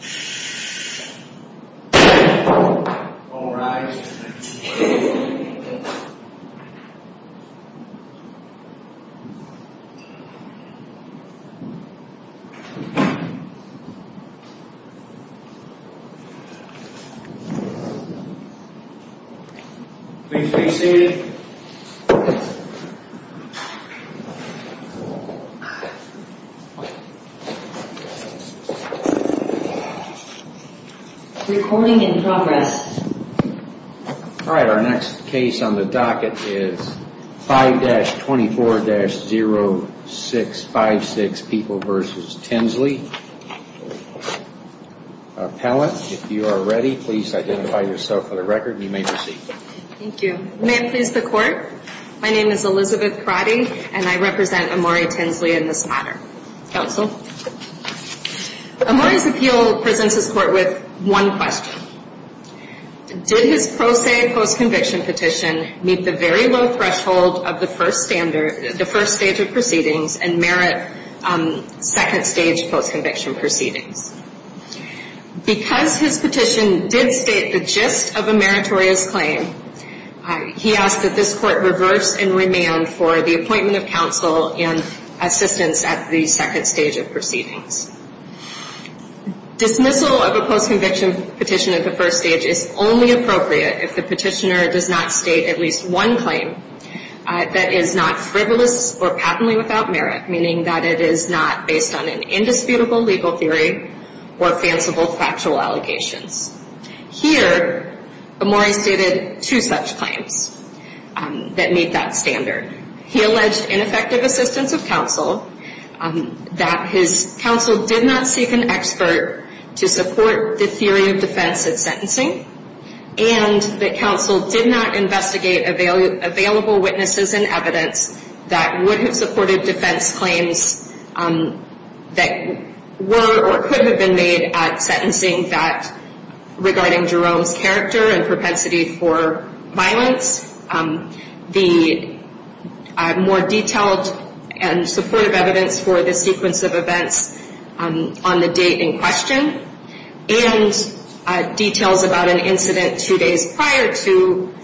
Shhhhhhh Bang Alright Please be seated Recording in progress Alright, our next case on the docket is 5-24-0656 People v. Tinsley Appellant, if you are ready, please identify yourself for the record and you may proceed Thank you. May it please the court, my name is Elizabeth Karate and I represent Amore Tinsley in this matter Counsel Amore's appeal presents his court with one question Did his pro se post conviction petition meet the very low threshold of the first standard, the first stage of proceedings and merit second stage post conviction proceedings? Because his petition did state the gist of a meritorious claim He asked that this court reverse and remand for the appointment of counsel and assistance at the second stage of proceedings Dismissal of a post conviction petition at the first stage is only appropriate if the petitioner does not state at least one claim that is not frivolous or patently without merit, meaning that it is not based on an indisputable legal theory or fanciful factual allegations Here, Amore stated two such claims that meet that standard He alleged ineffective assistance of counsel, that his counsel did not seek an expert to support the theory of defense at sentencing And that counsel did not investigate available witnesses and evidence that would have supported defense claims that were or could have been made at sentencing that regarding Jerome's character and propensity for violence The more detailed and supportive evidence for the sequence of events on the date in question And details about an incident two days prior to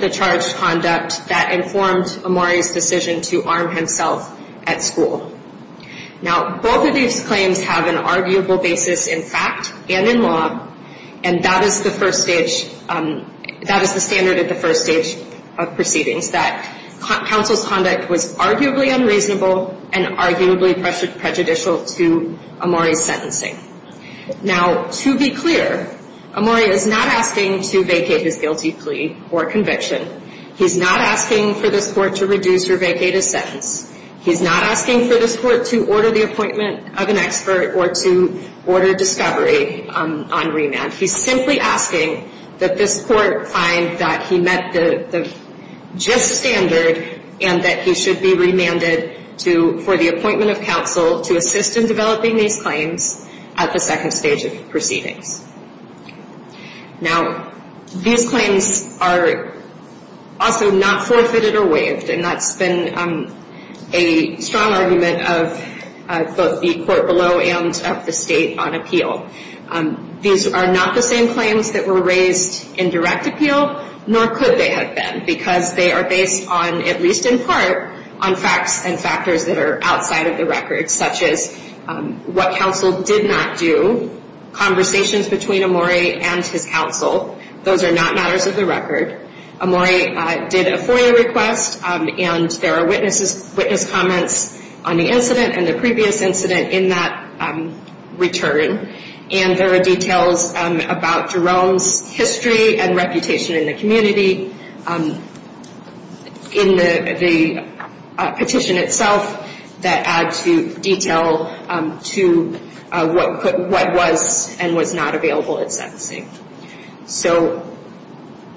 the charged conduct that informed Amore's decision to arm himself at school Now, both of these claims have an arguable basis in fact and in law And that is the first stage, that is the standard of the first stage of proceedings That counsel's conduct was arguably unreasonable and arguably prejudicial to Amore's sentencing Now, to be clear, Amore is not asking to vacate his guilty plea or conviction He's not asking for this court to reduce or vacate his sentence He's not asking for this court to order the appointment of an expert or to order discovery on remand He's simply asking that this court find that he met the just standard and that he should be remanded for the appointment of counsel to assist in developing these claims at the second stage of proceedings Now, these claims are also not forfeited or waived And that's been a strong argument of both the court below and of the state on appeal These are not the same claims that were raised in direct appeal Nor could they have been because they are based on, at least in part, on facts and factors that are outside of the record Such as what counsel did not do, conversations between Amore and his counsel Those are not matters of the record Amore did a FOIA request and there are witness comments on the incident and the previous incident in that return And there are details about Jerome's history and reputation in the community In the petition itself that add to detail to what was and was not available at sentencing So,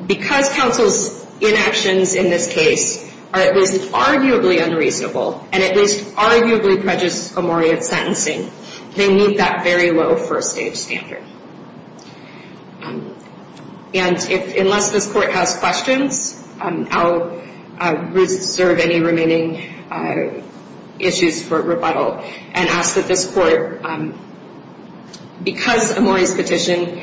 because counsel's inactions in this case are at least arguably unreasonable And at least arguably prejudice Amore at sentencing They meet that very low first stage standard And unless this court has questions, I'll reserve any remaining issues for rebuttal And ask that this court, because Amore's petition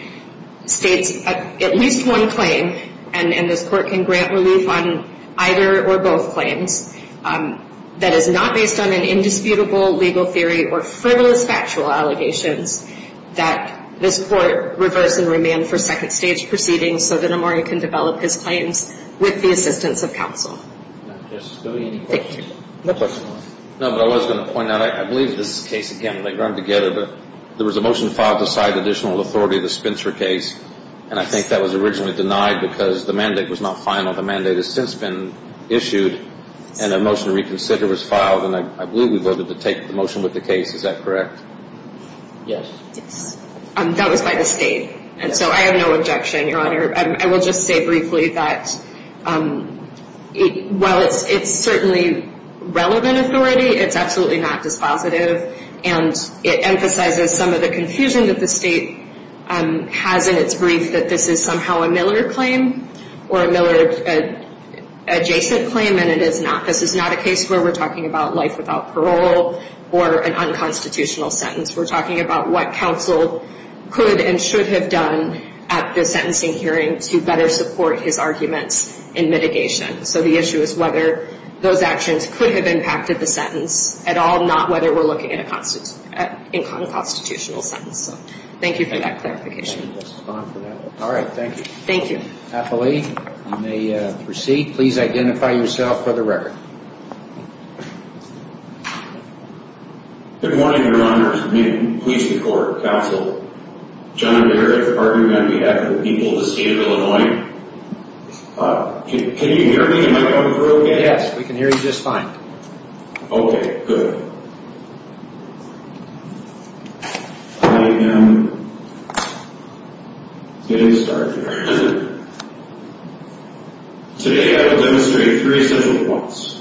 states at least one claim And this court can grant relief on either or both claims That is not based on an indisputable legal theory or frivolous factual allegations That this court reverse and remand for second stage proceedings So that Amore can develop his claims with the assistance of counsel Thank you No question No, but I was going to point out, I believe this case, again, may run together But there was a motion filed to cite additional authority to the Spitzer case And I think that was originally denied because the mandate was not final The mandate has since been issued and a motion to reconsider was filed And I believe we voted to take the motion with the case, is that correct? Yes That was by the state, and so I have no objection, your honor I will just say briefly that while it's certainly relevant authority It's absolutely not dispositive And it emphasizes some of the confusion that the state has in its brief That this is somehow a Miller claim or a Miller-adjacent claim And it is not This is not a case where we're talking about life without parole Or an unconstitutional sentence We're talking about what counsel could and should have done at the sentencing hearing To better support his arguments in mitigation So the issue is whether those actions could have impacted the sentence at all And not whether we're looking at an unconstitutional sentence So thank you for that clarification All right, thank you Thank you Appellee, you may proceed Please identify yourself for the record Good morning, your honor Please record, counsel John Barrett, the pardon me, on behalf of the people of the state of Illinois Can you hear me? Am I going through okay? Yes, we can hear you just fine Okay, good I am getting started here Today I will demonstrate three essential points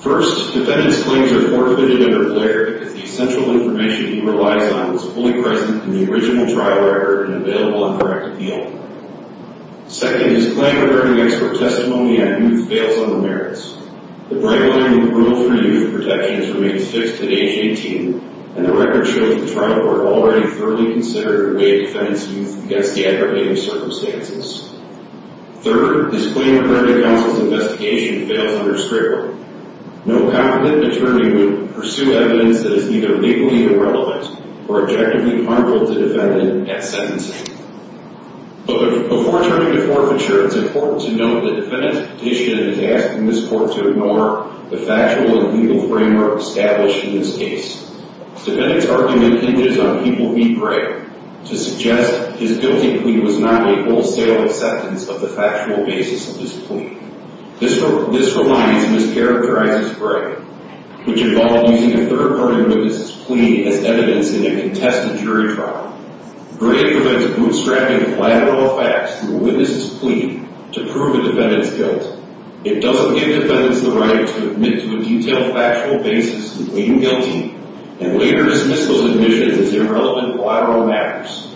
First, defendant's claims are forfeited under Blair Because the essential information he relies on Was fully present in the original trial record And available on direct appeal Second, his claim regarding expert testimony On youth fails on the merits The bright line in the rule for youth protections Remains fixed at age 18 And the record shows the trial court Already thoroughly considered the way it defends youth Against the aggravating circumstances Third, his claim regarding counsel's investigation Fails under Strayhorn No competent attorney would pursue evidence That is either legally irrelevant Or objectively harmful to the defendant at sentencing But before turning to forfeiture It's important to note the defendant's petition Is asking this court to ignore The factual and legal framework Established in this case Defendant's argument hinges on people Being brave to suggest His guilty plea was not a wholesale Acceptance of the factual basis Of this plea This reliance mischaracterizes brave Which involved using a third party Witness' plea as evidence In a contested jury trial Brave prevents bootstrapping Of collateral facts through a witness' plea To prove a defendant's guilt It doesn't give defendants the right To admit to a detailed factual basis And claim guilty And later dismiss those admissions As irrelevant collateral matters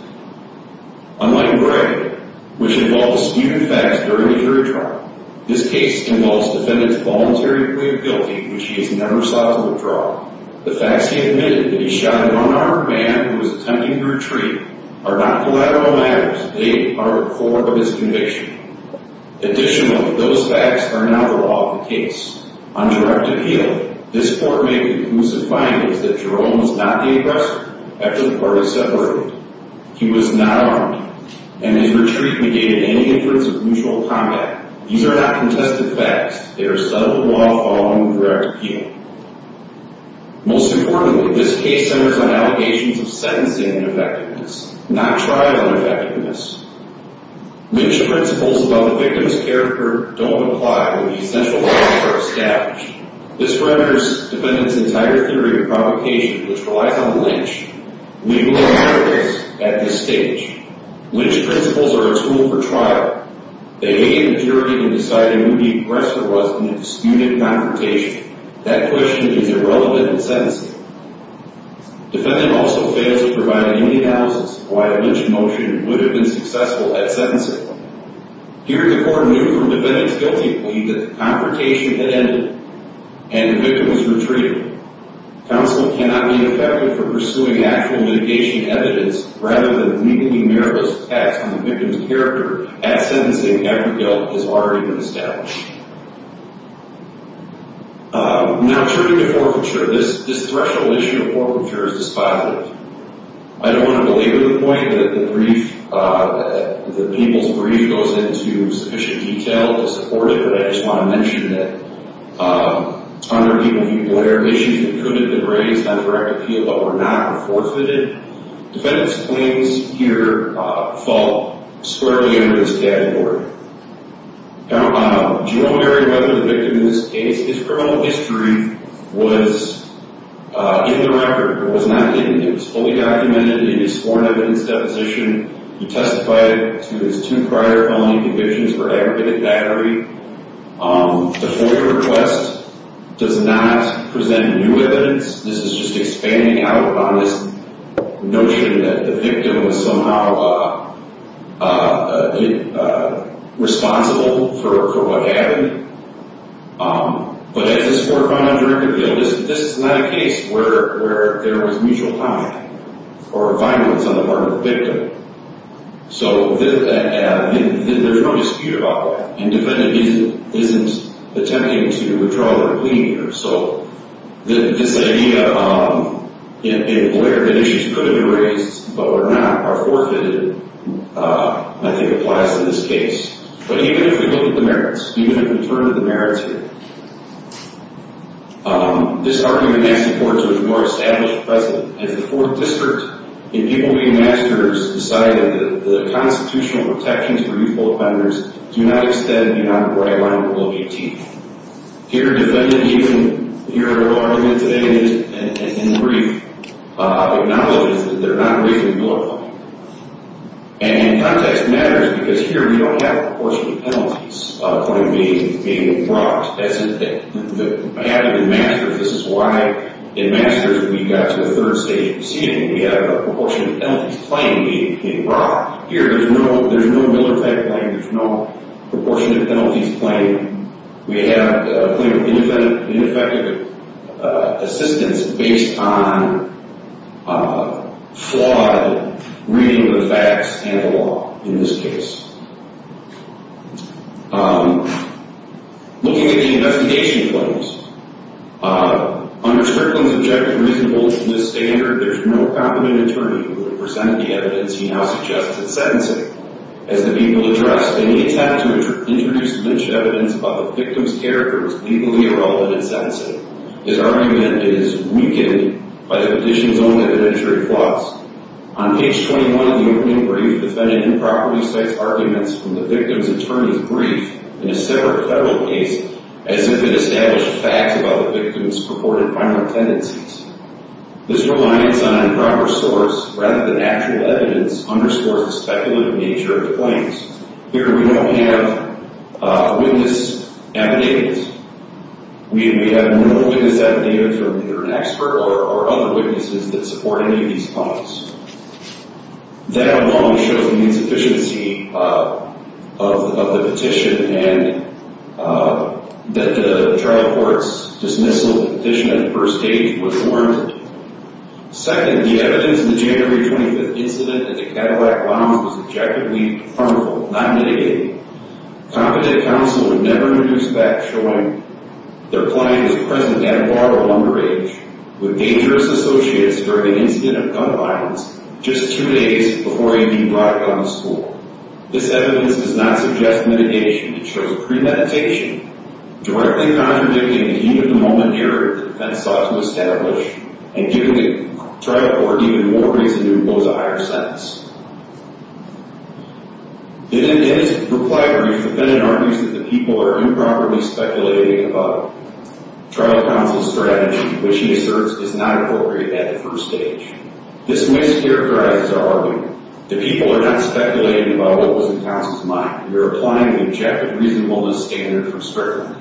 Unlike brave Which involves skewed facts during a jury trial This case involves Defendant's voluntary plea of guilty Which he has never sought to withdraw The facts he admitted That he shot an unarmed man Who was attempting to retreat Are not collateral matters They are at the core of his conviction Additionally, those facts Are not the law of the case On direct appeal, this court Made conclusive findings that Jerome was not the aggressor After the parties separated He was not armed And his retreat negated any inference of mutual combat These are not contested facts They are a set of law following direct appeal Most importantly This case centers on allegations of Sentencing ineffectiveness Not trial ineffectiveness Lynch principles about the victim's Character don't apply When the essential facts are established This renders defendants entire Theory of provocation which relies on Lynch At this stage Lynch principles are a tool for trial They negate impurity in deciding Who the aggressor was in a disputed Confrontation That question is irrelevant In sentencing Defendant also fails to provide Any analysis of why a Lynch motion Would have been successful at sentencing Here the court knew from defendants Guilty plea that the confrontation Had ended and the victim Was retreated Counsel cannot be effective for pursuing Actual litigation evidence rather than Meaningly mirrorless facts on the victim's Character at sentencing after Guilt has already been established Now turning to forfeiture This threshold issue of forfeiture Is dispositive I don't want to belabor the point that the brief That the people's brief goes into Sufficient detail to support it But I just want to mention that Under the appeal Issues that could have been raised on direct Appeal but were not are forfeited Defendants claims here Fall squarely Under this category Now do you know Gary Whether the victim in this case His criminal history was In the record It was fully documented In his sworn evidence deposition He testified to his two prior Felony convictions for aggregated battery The FOIA request Does not Present new evidence This is just expanding out on this Notion that the victim was Somehow Responsible For what happened But as this Is not a case Where there was mutual Comment or violence On the part of the victim So There's no dispute about that Defendant isn't attempting To withdraw their plea here So this idea In Blair that issues Could have been raised but were not Are forfeited I think Applies to this case But even if we look at the merits Even if we turn to the merits This argument Is important to a more established precedent As the 4th district In people being mass murdered Decided that the constitutional protections For youthful offenders do not extend Beyond the bright line of Rule 18 Here defendant even Here argument today In brief Acknowledges that they're not Raising a Miller claim And in context matters because Here we don't have a proportionate penalties Point being brought That's the This is why In Masters we got to the 3rd stage We have a proportionate penalties claim Being brought Here there's no Miller type claim There's no proportionate penalties claim We have a claim of Ineffective Assistance based on Flawed reading of the facts And the law in this case Looking at the investigation claims Under Strickland's objective Reasonable to this standard There's no compliment attorney who would present The evidence he now suggests is sentencing As the people addressed Any attempt to introduce lynched evidence About the victim's character is legally Irrelevant in sentencing This argument is weakened By the petition's own evidentiary flaws On page 21 of the opening brief Defendant improperly cites arguments From the victim's attorney's brief In a separate federal case As if it established facts about The victim's purported violent tendencies This reliance on Improper source rather than actual Evidence underscores the speculative Nature of the claims Here we don't have Witness evidence We have no Witness evidence from either an expert Or other witnesses that support Any of these claims That alone shows the Insufficiency of The petition and That the trial Court's dismissal of the petition At the first stage was warranted Second, the evidence in the January 25th incident at the Cadillac Lounge was objectively harmful Not mitigated Competent counsel would never Produce facts showing their client Was present at a bar or underage With dangerous associates during The incident of gun violence Just two days before he Brought a gun to school This evidence does not suggest mitigation It shows premeditation Directly contradicting the heat of the moment Here the defense sought to establish And give the trial court Even more reason to impose a higher sentence In his In his reply brief The defendant argues that the people are Improperly speculating about Trial counsel's strategy Which he asserts is not appropriate At the first stage This mischaracterizes our argument The people are not speculating about What was in counsel's mind They are applying an objective reasonableness standard For scrutiny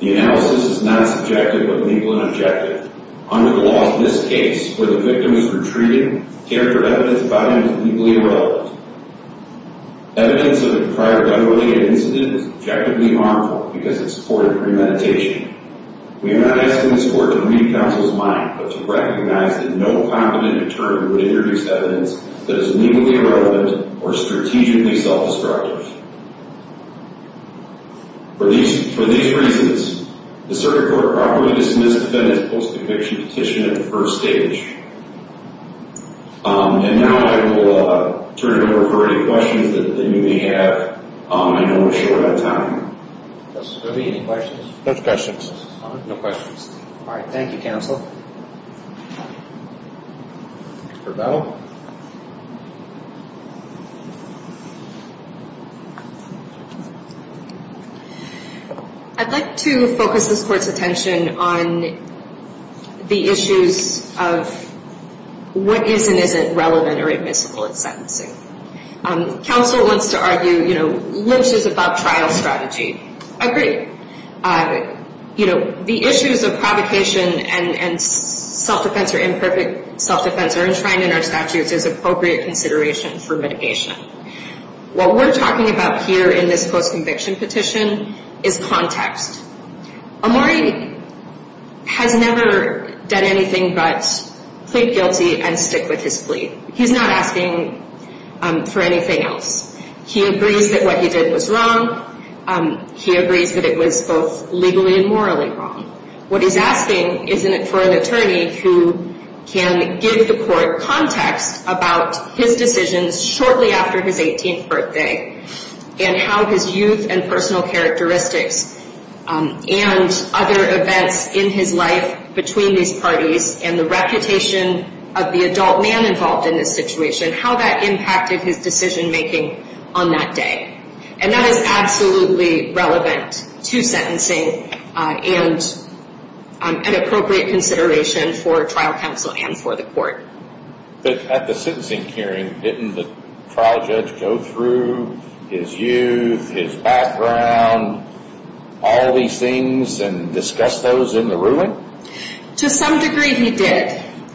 The analysis is not subjective But legal and objective Under the laws of this case Where the victim is retrieved Character evidence about him is legally irrelevant Evidence of a prior Gun related incident was objectively Harmful because it supported premeditation We have not asked This court to read counsel's mind But to recognize that no competent Attorney would introduce evidence That is legally irrelevant or strategically Self-destructive For these For these reasons The circuit court properly dismissed The defendant's post-conviction petition At the first stage And now I will Turn it over for any questions That you may have I know we're short on time Any questions? No questions Thank you counsel Mr. Bettle I'd like to Focus this court's attention On the issues Of What is and isn't relevant Or admissible in sentencing Counsel wants to argue Limits about trial strategy I agree The issues of provocation And self-defense Or imperfect self-defense Are enshrined in our statute As appropriate consideration For mitigation What we're talking about here in this post-conviction petition Is context Omori Has never Done anything but plead guilty And stick with his plea He's not asking for anything else He agrees that what he did Was wrong He agrees that it was both legally and morally Wrong What he's asking isn't it for an attorney Who can give the court Context about his decisions Shortly after his 18th birthday And how his youth And personal characteristics And other events In his life Between these parties And the reputation of the adult man involved In this situation How that impacted his decision making On that day And that is absolutely relevant To sentencing And an appropriate Consideration for trial Counsel and for the court But at the sentencing hearing Didn't the trial judge go through His youth His background All these things And discuss those in the ruling To some degree he did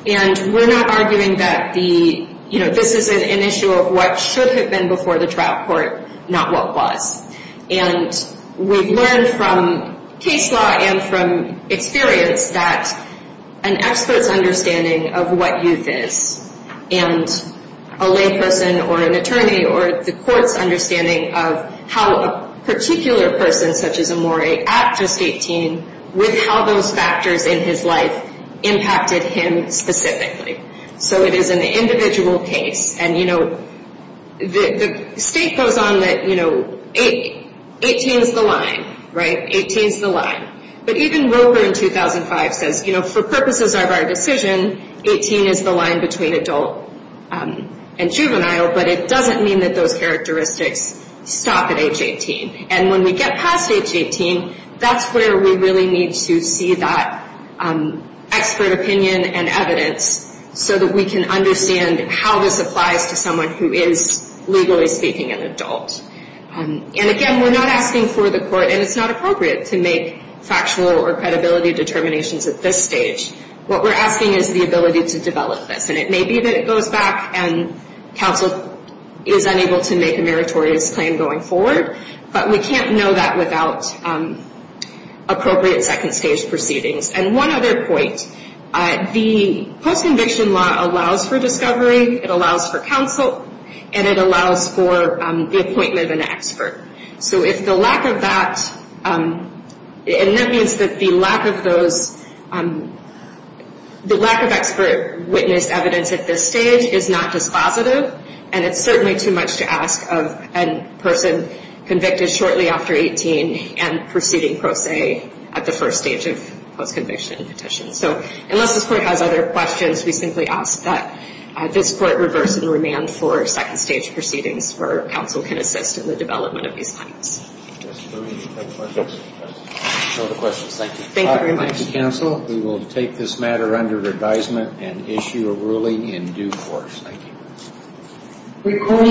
And we're not arguing that This is an issue of what Should have been before the trial court Not what was And we've learned From case law and from Experience that An expert's understanding Of what youth is And a lay person or an attorney Or the court's understanding Of how a particular Person such as Amore at just 18 With how those factors In his life impacted him Specifically So it is an individual case And you know The state goes on That you know 18 is the line 18 is the line But even Roper in 2005 says For purposes of our decision 18 is the line between adult And juvenile But it doesn't mean that those characteristics Stop at age 18 And when we get past age 18 That's where we really need to see that Expert opinion And evidence So that we can understand How this applies to someone who is Legally speaking an adult And again we're not asking For the court, and it's not appropriate To make factual or credibility Determinations at this stage What we're asking is the ability to develop this And it may be that it goes back And counsel is unable To make a meritorious claim going forward But we can't know that without Appropriate second stage Proceedings And one other point The post-conviction law Allows for discovery, it allows for Counsel, and it allows for The appointment of an expert So if the lack of that And that means that The lack of those The lack of expert Witness evidence at this stage Is not dispositive And it's certainly too much to ask of A person convicted shortly after 18 and proceeding pro se At the first stage of post-conviction Petition, so unless this court Has other questions, we simply ask that This court reverse the remand For second stage proceedings Where counsel can assist in the development of these claims Thank you very much We will take this matter under advisement And issue a ruling in due course Thank you